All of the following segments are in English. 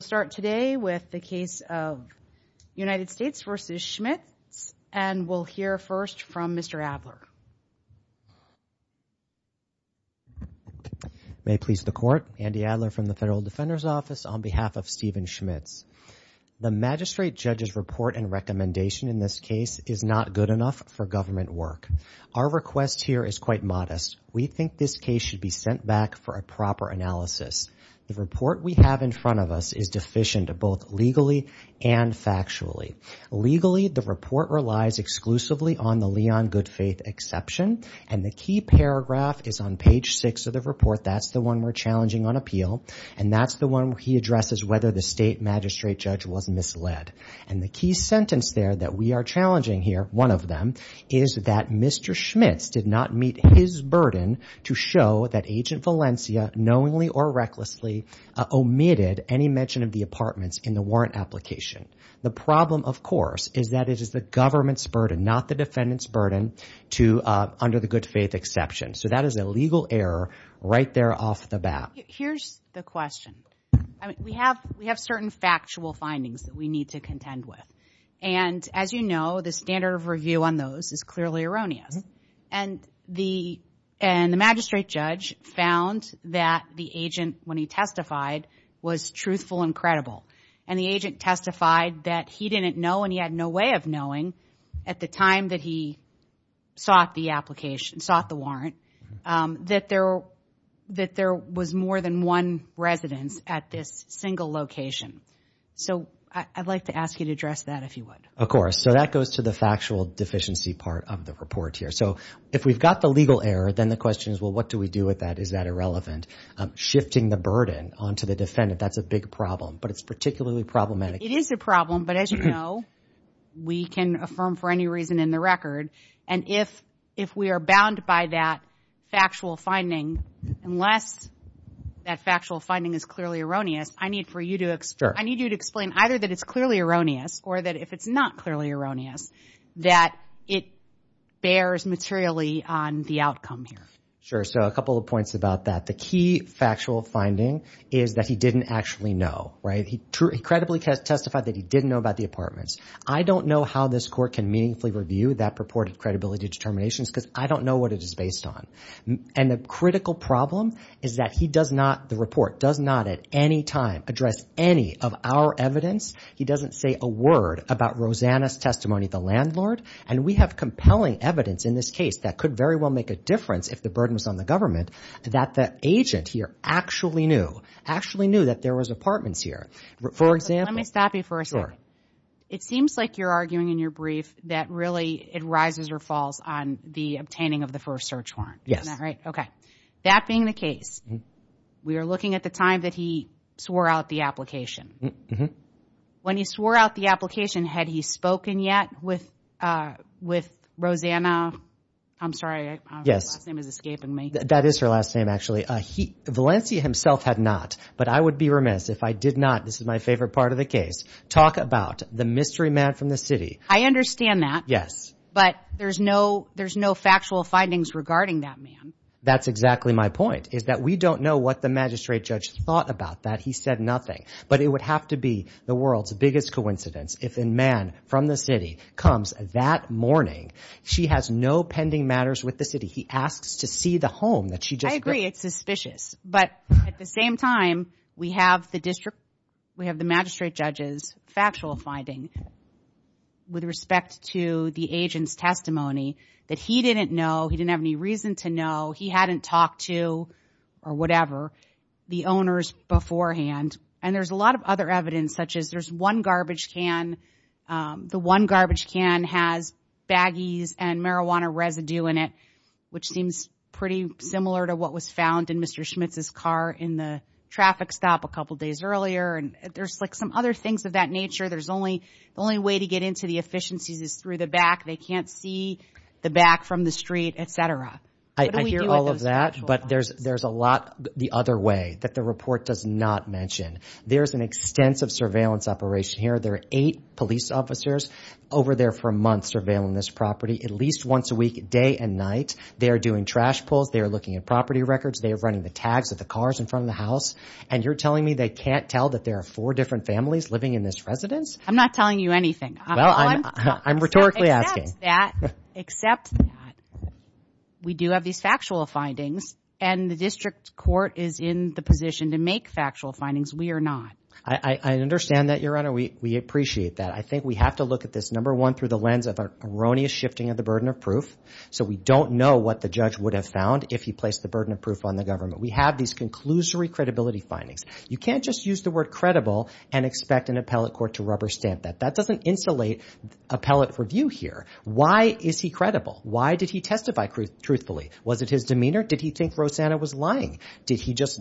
We'll start today with the case of United States v. Schmitz and we'll hear first from Mr. Adler. May it please the Court, Andy Adler from the Federal Defender's Office on behalf of Steven Schmitz. The Magistrate Judge's report and recommendation in this case is not good enough for government work. Our request here is quite modest. We think this case should be sent back for a proper analysis. The report we have in front of us is deficient both legally and factually. Legally, the report relies exclusively on the Leon Goodfaith exception and the key paragraph is on page 6 of the report. That's the one we're challenging on appeal and that's the one he addresses whether the State Magistrate Judge was misled. And the key sentence there that we are challenging here, one of them, is that Mr. Schmitz did not meet his burden to show that Agent Valencia knowingly or recklessly omitted any mention of the apartments in the warrant application. The problem, of course, is that it is the government's burden, not the defendant's burden under the Goodfaith exception. So that is a legal error right there off the bat. Here's the question. We have certain factual findings that we need to contend with and as you know, the standard of review on those is clearly erroneous. And the Magistrate Judge found that the agent, when he testified, was truthful and credible. And the agent testified that he didn't know and he had no way of knowing at the time that he sought the application, sought the warrant, that there was more than one residence at this single location. So I'd like to ask you to address that if you would. Of course. So that goes to the factual deficiency part of the report here. So if we've got the legal error, then the question is, well, what do we do with that? Is that irrelevant? Shifting the burden onto the defendant, that's a big problem, but it's particularly problematic. It is a problem, but as you know, we can affirm for any reason in the record. And if we are bound by that factual finding, unless that factual finding is clearly erroneous, I need for you to explain either that it's clearly erroneous or that if it's not clearly erroneous, that it bears materially on the outcome here. Sure. So a couple of points about that. The key factual finding is that he didn't actually know, right? He credibly testified that he didn't know about the apartments. I don't know how this court can meaningfully review that purported credibility determinations because I don't know what it is based on. And the critical problem is that he does not, the report does not at any time address any of our evidence. He doesn't say a word about Rosanna's testimony, the landlord, and we have compelling evidence in this case that could very well make a difference if the burden was on the government that the agent here actually knew, actually knew that there was apartments here. For example- Let me stop you for a second. Sure. It seems like you're arguing in your brief that really it rises or falls on the obtaining of the first search warrant. Yes. Isn't that right? Okay. That being the case, we are looking at the time that he swore out the application. When he swore out the application, had he spoken yet with Rosanna? I'm sorry. Yes. Her last name is escaping me. That is her last name actually. Valencia himself had not, but I would be remiss if I did not, this is my favorite part of the case, talk about the mystery man from the city. I understand that. Yes. But there's no factual findings regarding that man. That's exactly my point, is that we don't know what the magistrate judge thought about that. He said nothing. But it would have to be the world's biggest coincidence if a man from the city comes that morning. She has no pending matters with the city. He asks to see the home that she just- I agree. It's suspicious. But at the same time, we have the magistrate judge's factual finding with respect to the agent's testimony that he didn't know, he didn't have any reason to know, he hadn't talked to, or whatever, the owners beforehand. And there's a lot of other evidence, such as there's one garbage can, the one garbage can has baggies and marijuana residue in it, which seems pretty similar to what was found in Mr. Schmitz's car in the traffic stop a couple days earlier. And there's like some other things of that nature. There's only- the only way to get into the efficiencies is through the back. They can't see the back from the street, et cetera. I hear all of that, but there's a lot the other way that the report does not mention. There's an extensive surveillance operation here. There are eight police officers over there for months surveilling this property, at least once a week, day and night. They are doing trash pulls, they are looking at property records, they are running the tags of the cars in front of the house. And you're telling me they can't tell that there are four different families living in this residence? I'm not telling you anything. Well, I'm rhetorically asking. Except that we do have these factual findings and the district court is in the position to make factual findings. We are not. I understand that, Your Honor. We appreciate that. I think we have to look at this, number one, through the lens of our erroneous shifting of the burden of proof. So we don't know what the judge would have found if he placed the burden of proof on the government. We have these conclusory credibility findings. You can't just use the word credible and expect an appellate court to rubber stamp that. That doesn't insulate appellate review here. Why is he credible? Why did he testify truthfully? Was it his demeanor? Did he think Rosanna was lying? Did he just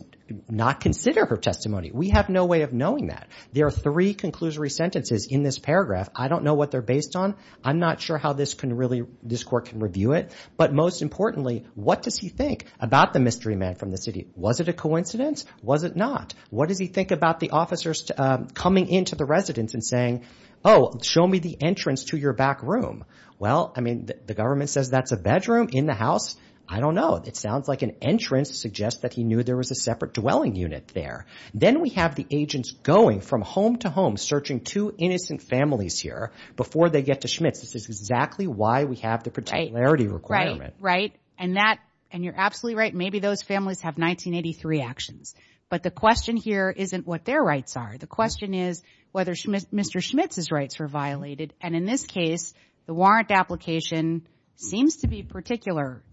not consider her testimony? We have no way of knowing that. There are three conclusory sentences in this paragraph. I don't know what they're based on. I'm not sure how this court can review it. But most importantly, what does he think about the mystery man from the city? Was it a coincidence? Was it not? What does he think about the officers coming into the residence and saying, oh, show me the entrance to your back room? Well, I mean, the government says that's a bedroom in the house. I don't know. It sounds like an entrance suggests that he knew there was a separate dwelling unit there. Then we have the agents going from home to home searching two innocent families here before they get to Schmitz. This is exactly why we have the particularity requirement. Right, right. And that, and you're absolutely right. Maybe those families have 1983 actions. But the question here isn't what their rights are. The question is whether Mr. Schmitz's rights were violated. And in this case, the warrant application seems to be particular.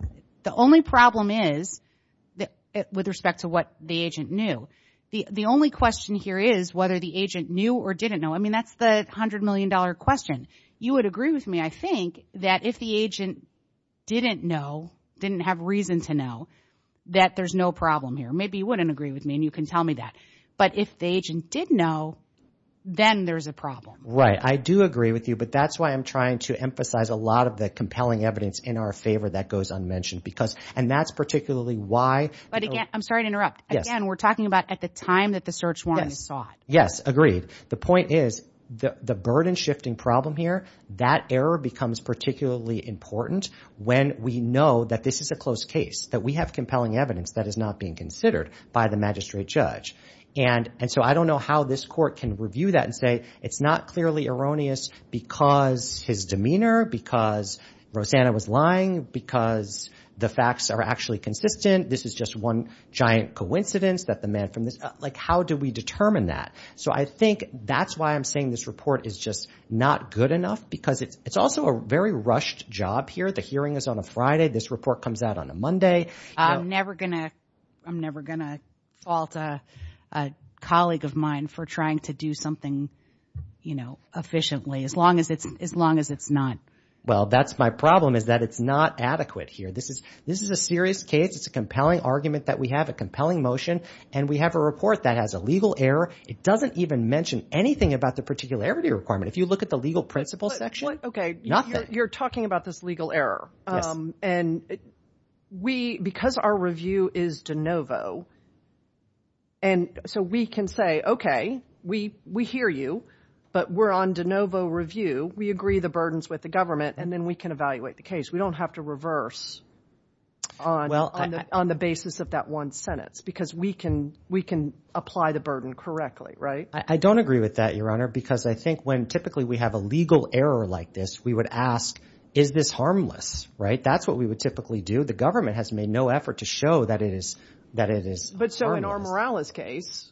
The only problem is with respect to what the agent knew. The only question here is whether the agent knew or didn't know. I mean, that's the $100 million question. You would agree with me, I think, that if the agent didn't know, didn't have reason to know, that there's no problem here. Maybe you wouldn't agree with me, and you can tell me that. But if the agent did know, then there's a problem. I do agree with you, but that's why I'm trying to emphasize a lot of the compelling evidence in our favor that goes unmentioned. And that's particularly why— But again, I'm sorry to interrupt. Again, we're talking about at the time that the search warrant is sought. Yes, agreed. The point is, the burden-shifting problem here, that error becomes particularly important when we know that this is a close case, that we have compelling evidence that is not being considered by the magistrate judge. And so I don't know how this court can review that and say, it's not clearly erroneous because his demeanor, because Rosanna was lying, because the facts are actually consistent. This is just one giant coincidence that the man from this— Like, how do we determine that? So I think that's why I'm saying this report is just not good enough, because it's also a very rushed job here. The hearing is on a Friday. This report comes out on a Monday. I'm never going to fault a colleague of mine for trying to do something efficiently, as long as it's not— Well, that's my problem, is that it's not adequate here. This is a serious case. It's a compelling argument that we have, a compelling motion, and we have a report that has a legal error. It doesn't even mention anything about the particularity requirement. If you look at the legal principles section, nothing. You're talking about this legal error. And because our review is de novo, and so we can say, OK, we hear you, but we're on de novo review. We agree the burdens with the government, and then we can evaluate the case. We don't have to reverse on the basis of that one sentence, because we can apply the burden correctly, right? I don't agree with that, Your Honor, because I think when typically we have a legal error like this, we would ask, is this harmless, right? That's what we would typically do. The government has made no effort to show that it is harmless. But so in our Morales case,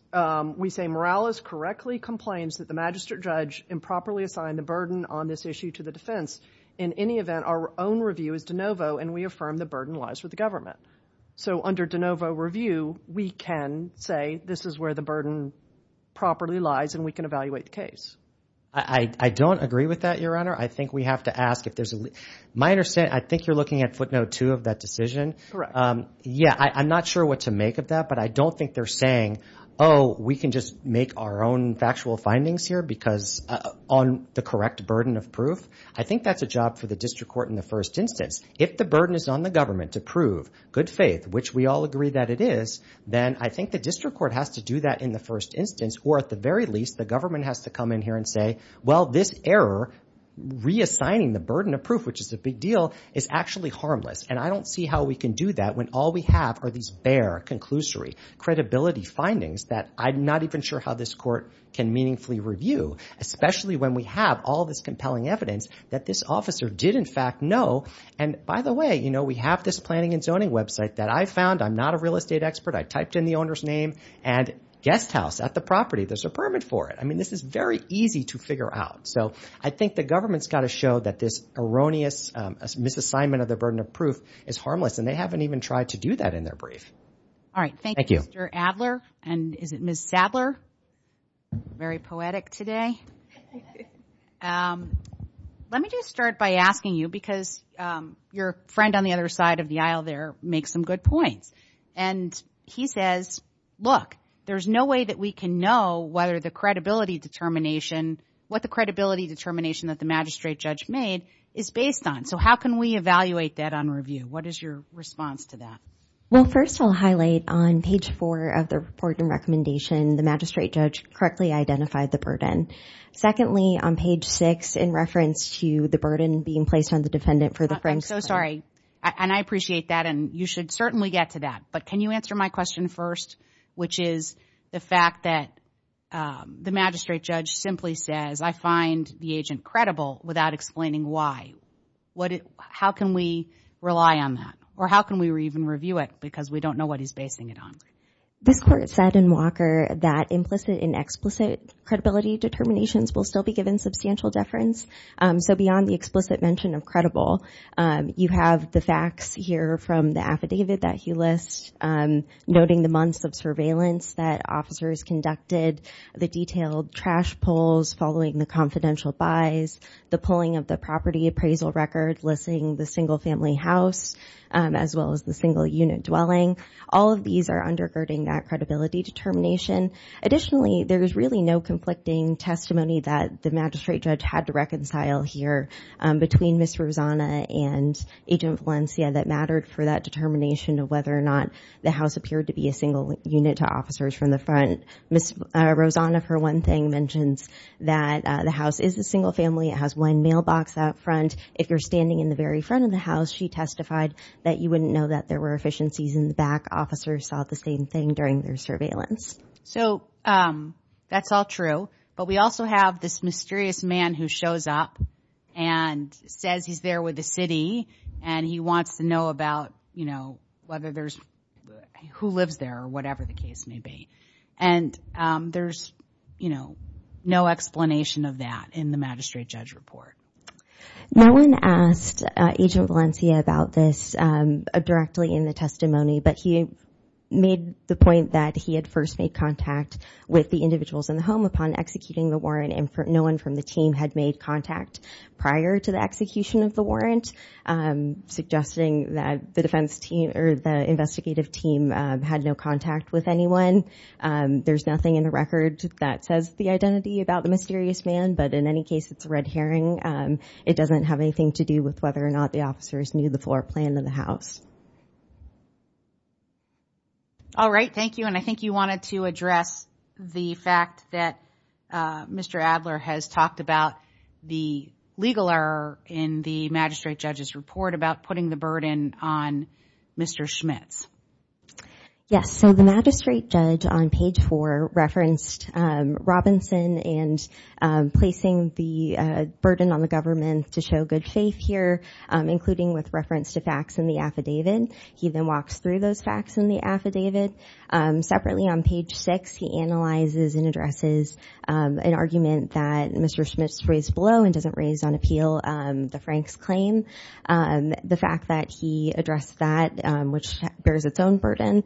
we say Morales correctly complains that the magistrate judge improperly assigned the burden on this issue to the defense. In any event, our own review is de novo, and we affirm the burden lies with the government. So under de novo review, we can say, this is where the burden properly lies, and we can evaluate the case. I don't agree with that, Your Honor. I think we have to ask if there's a—my understanding, I think you're looking at footnote two of that decision. Correct. Yeah. I'm not sure what to make of that, but I don't think they're saying, oh, we can just make our own factual findings here because—on the correct burden of proof. I think that's a job for the district court in the first instance. If the burden is on the government to prove good faith, which we all agree that it is, then I think the district court has to do that in the first instance, or at the very least, the government has to come in here and say, well, this error, reassigning the burden of proof, which is a big deal, is actually harmless. And I don't see how we can do that when all we have are these bare, conclusory, credibility findings that I'm not even sure how this court can meaningfully review, especially when we have all this compelling evidence that this officer did, in fact, know. And by the way, you know, we have this planning and zoning website that I found. I'm not a real estate expert. I typed in the owner's name and guest house at the property. There's a permit for it. I mean, this is very easy to figure out. So I think the government's got to show that this erroneous misassignment of the burden of proof is harmless, and they haven't even tried to do that in their brief. All right. Thank you. Thank you, Mr. Adler. And is it Ms. Sadler? Very poetic today. Let me just start by asking you, because your friend on the other side of the aisle there makes some good points. And he says, look, there's no way that we can know whether the credibility determination, what the credibility determination that the magistrate judge made, is based on. So how can we evaluate that on review? What is your response to that? Well, first, I'll highlight on page four of the report and recommendation, the magistrate judge correctly identified the burden. Secondly, on page six, in reference to the burden being placed on the defendant for the friendship. And I appreciate that. And you should certainly get to that. But can you answer my question first? Which is the fact that the magistrate judge simply says, I find the agent credible without explaining why. How can we rely on that? Or how can we even review it? Because we don't know what he's basing it on. This court said in Walker that implicit and explicit credibility determinations will still be given substantial deference. So beyond the explicit mention of credible, you have the facts here from the affidavit that he lists, noting the months of surveillance that officers conducted, the detailed trash pulls following the confidential buys, the pulling of the property appraisal record listing the single family house, as well as the single unit dwelling. All of these are undergirding that credibility determination. Additionally, there is really no conflicting testimony that the magistrate judge had to reconcile here between Ms. Rosanna and Agent Valencia that mattered for that determination of whether or not the house appeared to be a single unit to officers from the front. Ms. Rosanna, for one thing, mentions that the house is a single family. It has one mailbox out front. If you're standing in the very front of the house, she testified that you wouldn't know that there were efficiencies in the back. Officers saw the same thing during their surveillance. So that's all true, but we also have this mysterious man who shows up and says he's there with the city and he wants to know about, you know, whether there's, who lives there or whatever the case may be. And there's, you know, no explanation of that in the magistrate judge report. No one asked Agent Valencia about this directly in the testimony, but he made the point that he had first made contact with the individuals in the home upon executing the warrant and no one from the team had made contact prior to the execution of the warrant, suggesting that the defense team or the investigative team had no contact with anyone. There's nothing in the record that says the identity about the mysterious man, but in any case, it's a red herring. It doesn't have anything to do with whether or not the officers knew the floor plan of the house. All right. Thank you. And I think you wanted to address the fact that Mr. Adler has talked about the legal error in the magistrate judge's report about putting the burden on Mr. Schmitz. Yes. So the magistrate judge on page four referenced Robinson and placing the burden on the government to show good faith here, including with reference to facts in the affidavit. He then walks through those facts in the affidavit. Separately on page six, he analyzes and addresses an argument that Mr. Schmitz raised below and doesn't raise on appeal the Frank's claim. The fact that he addressed that, which bears its own burden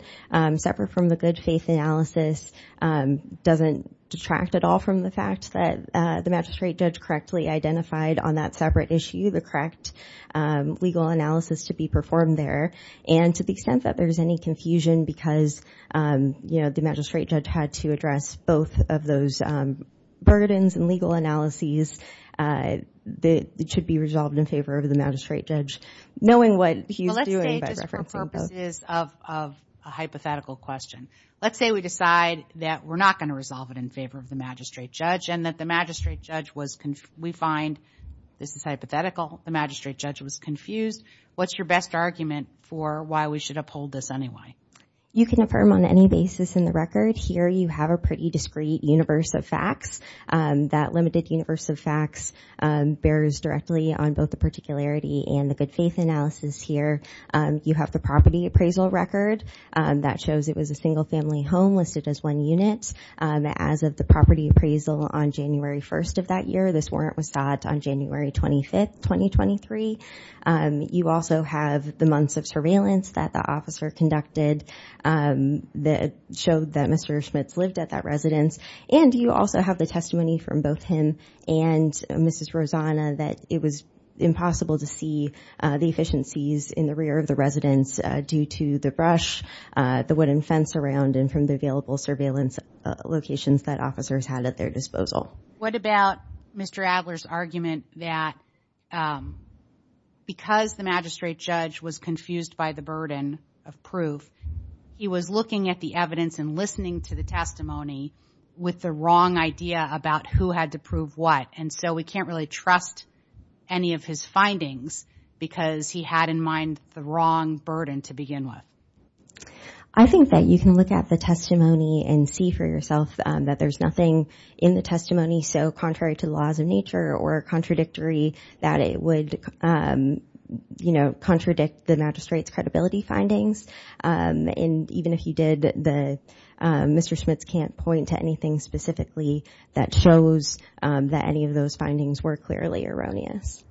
separate from the good faith analysis, doesn't detract at all from the fact that the magistrate judge correctly identified on that separate issue, the correct legal analysis to be performed there. And to the extent that there's any confusion because, you know, the magistrate judge had to address both of those burdens and legal analyses that should be resolved in favor of the magistrate judge, knowing what he's doing by referencing both. But let's say just for purposes of a hypothetical question, let's say we decide that we're not going to resolve it in favor of the magistrate judge and that the magistrate judge was, we find, this is hypothetical, the magistrate judge was confused. What's your best argument for why we should uphold this anyway? You can affirm on any basis in the record. Here you have a pretty discreet universe of facts. That limited universe of facts bears directly on both the particularity and the good faith analysis here. You have the property appraisal record that shows it was a single family home listed as one unit as of the property appraisal on January 1st of that year. This warrant was sought on January 25th, 2023. You also have the months of surveillance that the officer conducted that showed that Mr. Schmitz lived at that residence. And you also have the testimony from both him and Mrs. Rosanna that it was impossible to see the efficiencies in the rear of the residence due to the brush, the wooden fence around and from the available surveillance locations that officers had at their disposal. What about Mr. Adler's argument that because the magistrate judge was confused by the burden of proof, he was looking at the evidence and listening to the testimony with the wrong idea about who had to prove what. And so we can't really trust any of his findings because he had in mind the wrong burden to begin with. I think that you can look at the testimony and see for yourself that there's nothing in the testimony so contrary to the laws of nature or contradictory that it would, you know, contradict the magistrate's credibility findings. And even if he did, Mr. Schmitz can't point to anything specifically that shows that any of those findings were clearly erroneous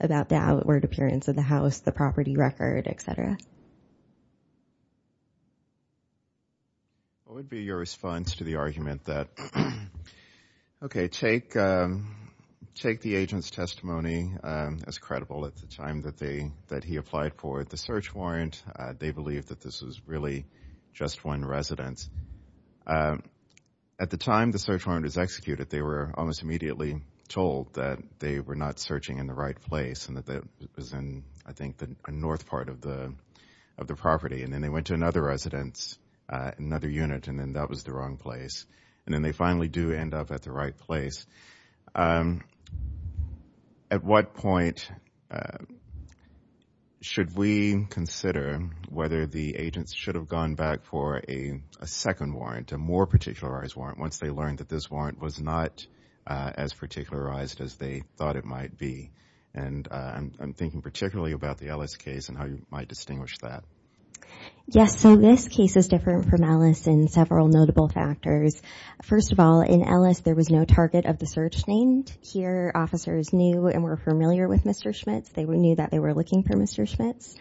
about the outward appearance of the house, the property record, etc. What would be your response to the argument that, okay, take the agent's testimony as credible at the time that he applied for the search warrant. They believe that this was really just one residence. At the time the search warrant was executed, they were almost immediately told that they were not searching in the right place and that it was in, I think, the north part of the property. And then they went to another residence, another unit, and then that was the wrong place. And then they finally do end up at the right place. At what point should we consider whether the agents should have gone back for a second warrant, a more particularized warrant, once they learned that this warrant was not as particularized as they thought it might be? And I'm thinking particularly about the Ellis case and how you might distinguish that. Yes. So this case is different from Ellis in several notable factors. First of all, in Ellis, there was no target of the search named. Here officers knew and were familiar with Mr. Schmitz. They knew that they were looking for Mr. Schmitz.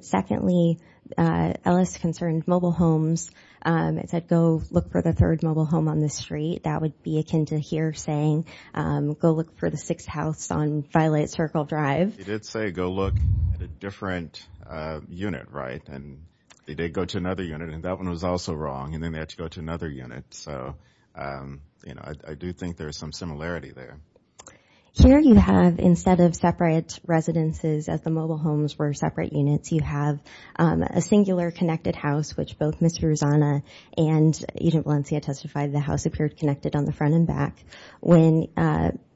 Secondly, Ellis concerned mobile homes and said, go look for the third mobile home on the street. That would be akin to here saying, go look for the sixth house on Violet Circle Drive. They did say, go look at a different unit, right? And they did go to another unit, and that one was also wrong, and then they had to go to another unit. So, you know, I do think there's some similarity there. Here you have, instead of separate residences as the mobile homes were separate units, you have a singular connected house, which both Mr. Rosana and Agent Valencia testified the house appeared connected on the front and back. When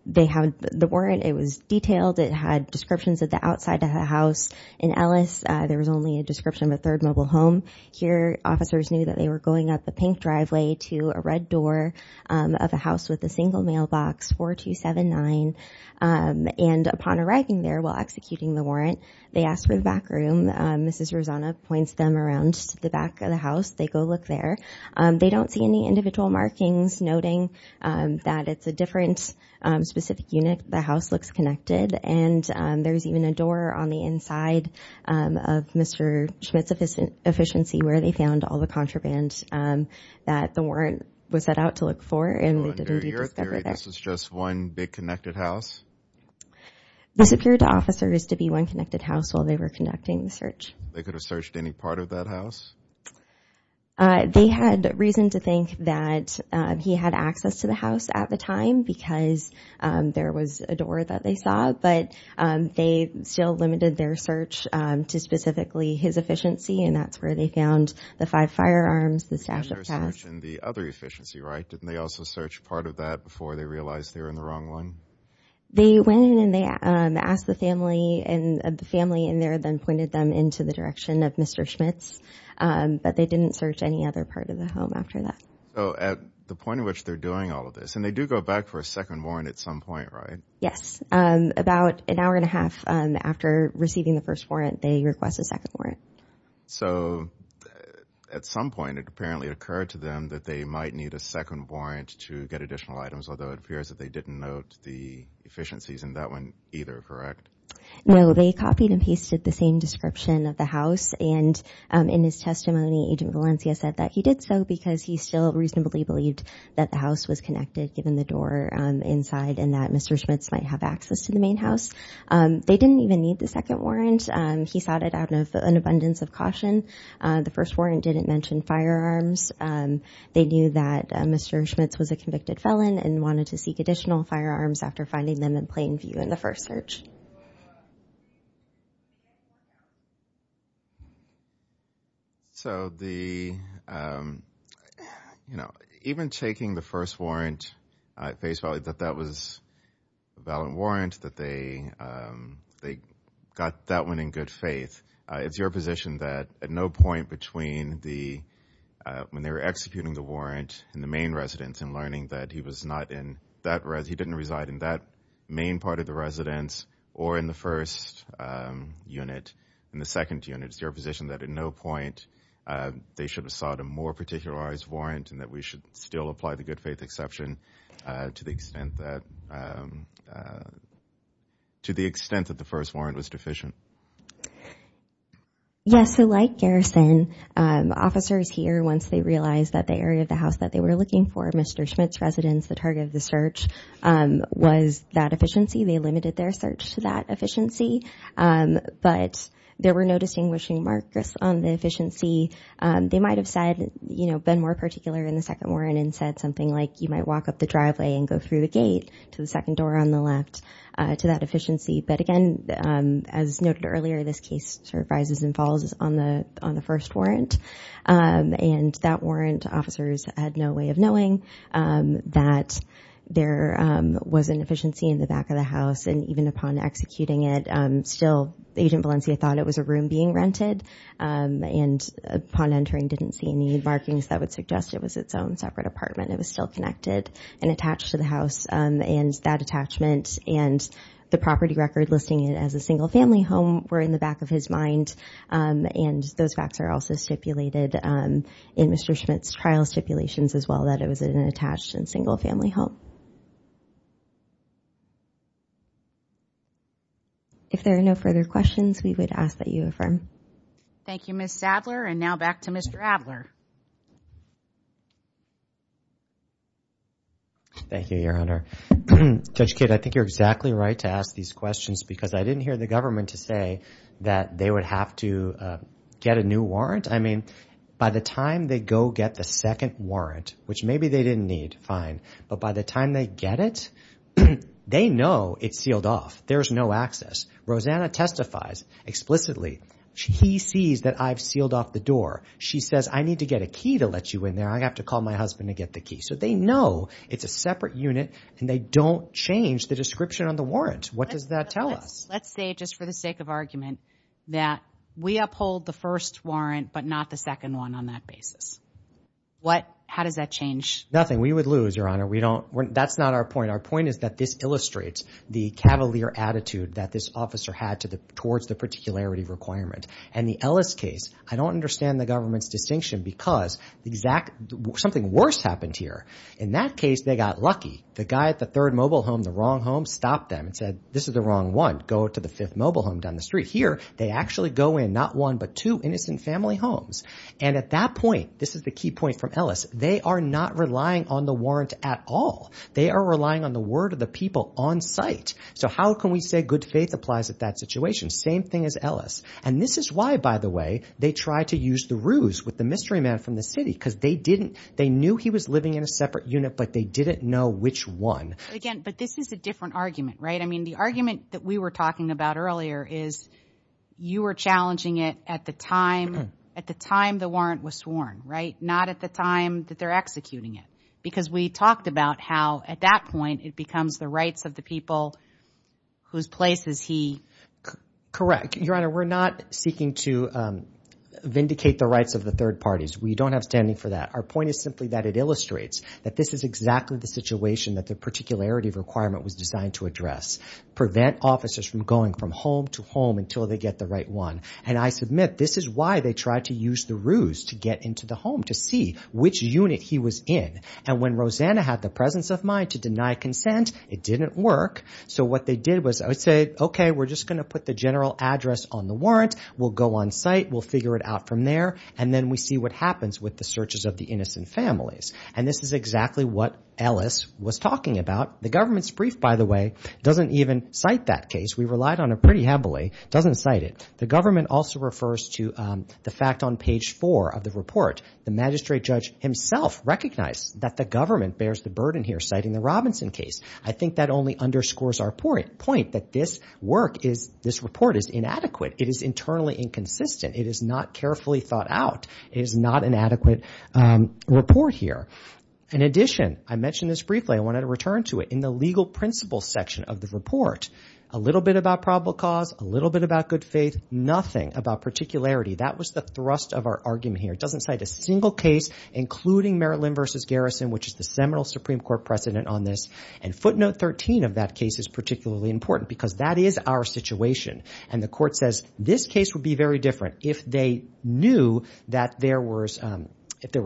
they had the warrant, it was detailed. It had descriptions of the outside of the house. In Ellis, there was only a description of a third mobile home. Here, officers knew that they were going up the pink driveway to a red door of a house with a single mailbox, 4279. And upon arriving there while executing the warrant, they asked for the back room. Mrs. Rosana points them around to the back of the house. They go look there. They don't see any individual markings noting that it's a different specific unit. The house looks connected, and there's even a door on the inside of Mr. Schmitz's efficient see where they found all the contraband that the warrant was set out to look for, and they didn't rediscover that. So under your theory, this was just one big connected house? This appeared to officers to be one connected house while they were conducting the search. They could have searched any part of that house? They had reason to think that he had access to the house at the time because there was a door that they saw, but they still limited their search to specifically his efficiency, and that's where they found the five firearms, the stash of cash. They had their search in the other efficiency, right? Didn't they also search part of that before they realized they were in the wrong one? They went in and they asked the family, and the family in there then pointed them into the direction of Mr. Schmitz, but they didn't search any other part of the home after that. So at the point at which they're doing all of this, and they do go back for a second warrant at some point, right? Yes. About an hour and a half after receiving the first warrant, they request a second warrant. So at some point, it apparently occurred to them that they might need a second warrant to get additional items, although it appears that they didn't note the efficiencies in that one either, correct? No, they copied and pasted the same description of the house, and in his testimony, Agent Valencia said that he did so because he still reasonably believed that the house was connected given the door inside and that Mr. Schmitz might have access to the main house. They didn't even need the second warrant. He sought it out of an abundance of caution. The first warrant didn't mention firearms. They knew that Mr. Schmitz was a convicted felon and wanted to seek additional firearms after finding them in plain view in the first search. So the, you know, even taking the first warrant at face value, that that was a valid warrant, that they got that one in good faith, it's your position that at no point between the, when they were executing the warrant in the main residence and learning that he was not in that, he didn't reside in that main part of the residence or in the first unit, in the second unit. It's your position that at no point they should have sought a more particularized warrant and that we should still apply the good faith exception to the extent that, to the extent that the first warrant was deficient. Yes, so like Garrison, officers here, once they realized that the area of the house that they were looking for, Mr. Schmitz residence, the target of the search was that efficiency. They limited their search to that efficiency, but there were no distinguishing markers on the efficiency. They might've said, you know, been more particular in the second warrant and said something like you might walk up the driveway and go through the gate to the second door on the left to that efficiency. But again, as noted earlier, this case sort of rises and falls on the, on the first warrant. And that warrant officers had no way of knowing that there was an efficiency in the back of the house. And even upon executing it, still Agent Valencia thought it was a room being rented. And upon entering, didn't see any markings that would suggest it was its own separate apartment. It was still connected and attached to the house and that attachment and the property record listing it as a single family home were in the back of his mind. Um, and those facts are also stipulated, um, in Mr. Schmitz trial stipulations as well that it was an attached and single family home. If there are no further questions, we would ask that you affirm. Thank you, Ms. Sadler. And now back to Mr. Adler. Thank you, Your Honor. Judge Kidd, I think you're exactly right to ask these questions because I didn't hear the government to say that they would have to, uh, get a new warrant. I mean, by the time they go get the second warrant, which maybe they didn't need, fine. But by the time they get it, they know it's sealed off. There's no access. Rosanna testifies explicitly. He sees that I've sealed off the door. She says, I need to get a key to let you in there. I have to call my husband to get the key. So they know it's a separate unit and they don't change the description on the warrant. What does that tell us? Let's say, just for the sake of argument, that we uphold the first warrant, but not the second one on that basis. What, how does that change? Nothing. We would lose, Your Honor. We don't, that's not our point. Our point is that this illustrates the cavalier attitude that this officer had to the, towards the particularity requirement. And the Ellis case, I don't understand the government's distinction because the exact, something worse happened here. In that case, they got lucky. The guy at the third mobile home, the wrong home, stopped them and said, this is the wrong one. Go to the fifth mobile home down the street. Here, they actually go in not one, but two innocent family homes. And at that point, this is the key point from Ellis, they are not relying on the warrant at all. They are relying on the word of the people on site. So how can we say good faith applies at that situation? Same thing as Ellis. And this is why, by the way, they try to use the ruse with the mystery man from the city because they didn't, they knew he was living in a separate unit, but they didn't know which one. Again, but this is a different argument, right? I mean, the argument that we were talking about earlier is you were challenging it at the time, at the time the warrant was sworn, right? Not at the time that they're executing it. Because we talked about how, at that point, it becomes the rights of the people whose place is he. Correct. Your Honor, we're not seeking to vindicate the rights of the third parties. We don't have standing for that. Our point is simply that it illustrates that this is exactly the situation that the particularity requirement was designed to address. Prevent officers from going from home to home until they get the right one. And I submit, this is why they tried to use the ruse to get into the home, to see which unit he was in. And when Rosanna had the presence of mind to deny consent, it didn't work. So what they did was, I would say, okay, we're just going to put the general address on the We'll go on site. We'll figure it out from there. And then we see what happens with the searches of the innocent families. And this is exactly what Ellis was talking about. The government's brief, by the way, doesn't even cite that case. We relied on it pretty heavily, doesn't cite it. The government also refers to the fact on page four of the report, the magistrate judge himself recognized that the government bears the burden here, citing the Robinson case. I think that only underscores our point, that this work is, this report is inadequate. It is internally inconsistent. It is not carefully thought out. It is not an adequate report here. In addition, I mentioned this briefly. I wanted to return to it. In the legal principles section of the report, a little bit about probable cause, a little bit about good faith, nothing about particularity. That was the thrust of our argument here. It doesn't cite a single case, including Maryland v. Garrison, which is the seminal Supreme Court precedent on this. And footnote 13 of that case is particularly important, because that is our situation. And the court says, this case would be very different if they knew that there were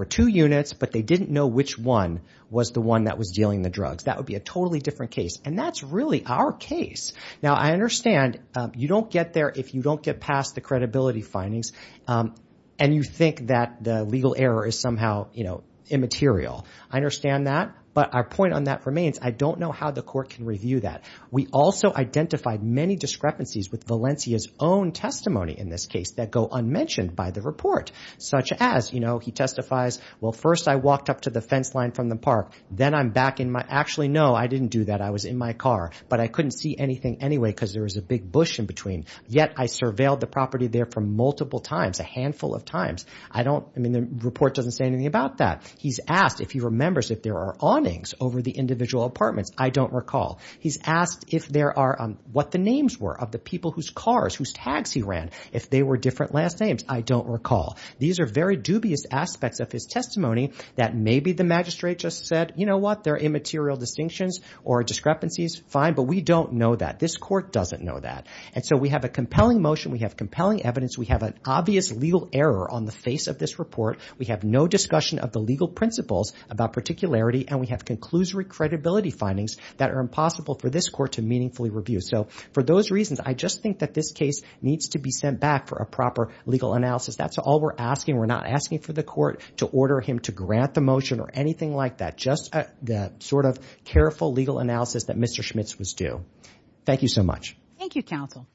two units, but they didn't know which one was the one that was dealing the drugs. That would be a totally different case. And that's really our case. Now, I understand you don't get there if you don't get past the credibility findings, and you think that the legal error is somehow immaterial. I understand that. But our point on that remains, I don't know how the court can review that. We also identified many discrepancies with Valencia's own testimony in this case that go unmentioned by the report, such as, you know, he testifies, well, first I walked up to the fence line from the park, then I'm back in my – actually, no, I didn't do that. I was in my car. But I couldn't see anything anyway, because there was a big bush in between. Yet, I surveilled the property there for multiple times, a handful of times. I don't – I mean, the report doesn't say anything about that. He's asked, if he remembers, if there are awnings over the individual apartments. I don't recall. He's asked if there are – what the names were of the people whose cars, whose taxis ran. If they were different last names. I don't recall. These are very dubious aspects of his testimony that maybe the magistrate just said, you know what, they're immaterial distinctions or discrepancies, fine, but we don't know that. This court doesn't know that. And so we have a compelling motion. We have compelling evidence. We have an obvious legal error on the face of this report. We have no discussion of the legal principles about particularity, and we have conclusory credibility findings that are impossible for this court to meaningfully review. So for those reasons, I just think that this case needs to be sent back for a proper legal analysis. That's all we're asking. We're not asking for the court to order him to grant the motion or anything like that. Just a sort of careful legal analysis that Mr. Schmitz was due. Thank you so much. Thank you, counsel.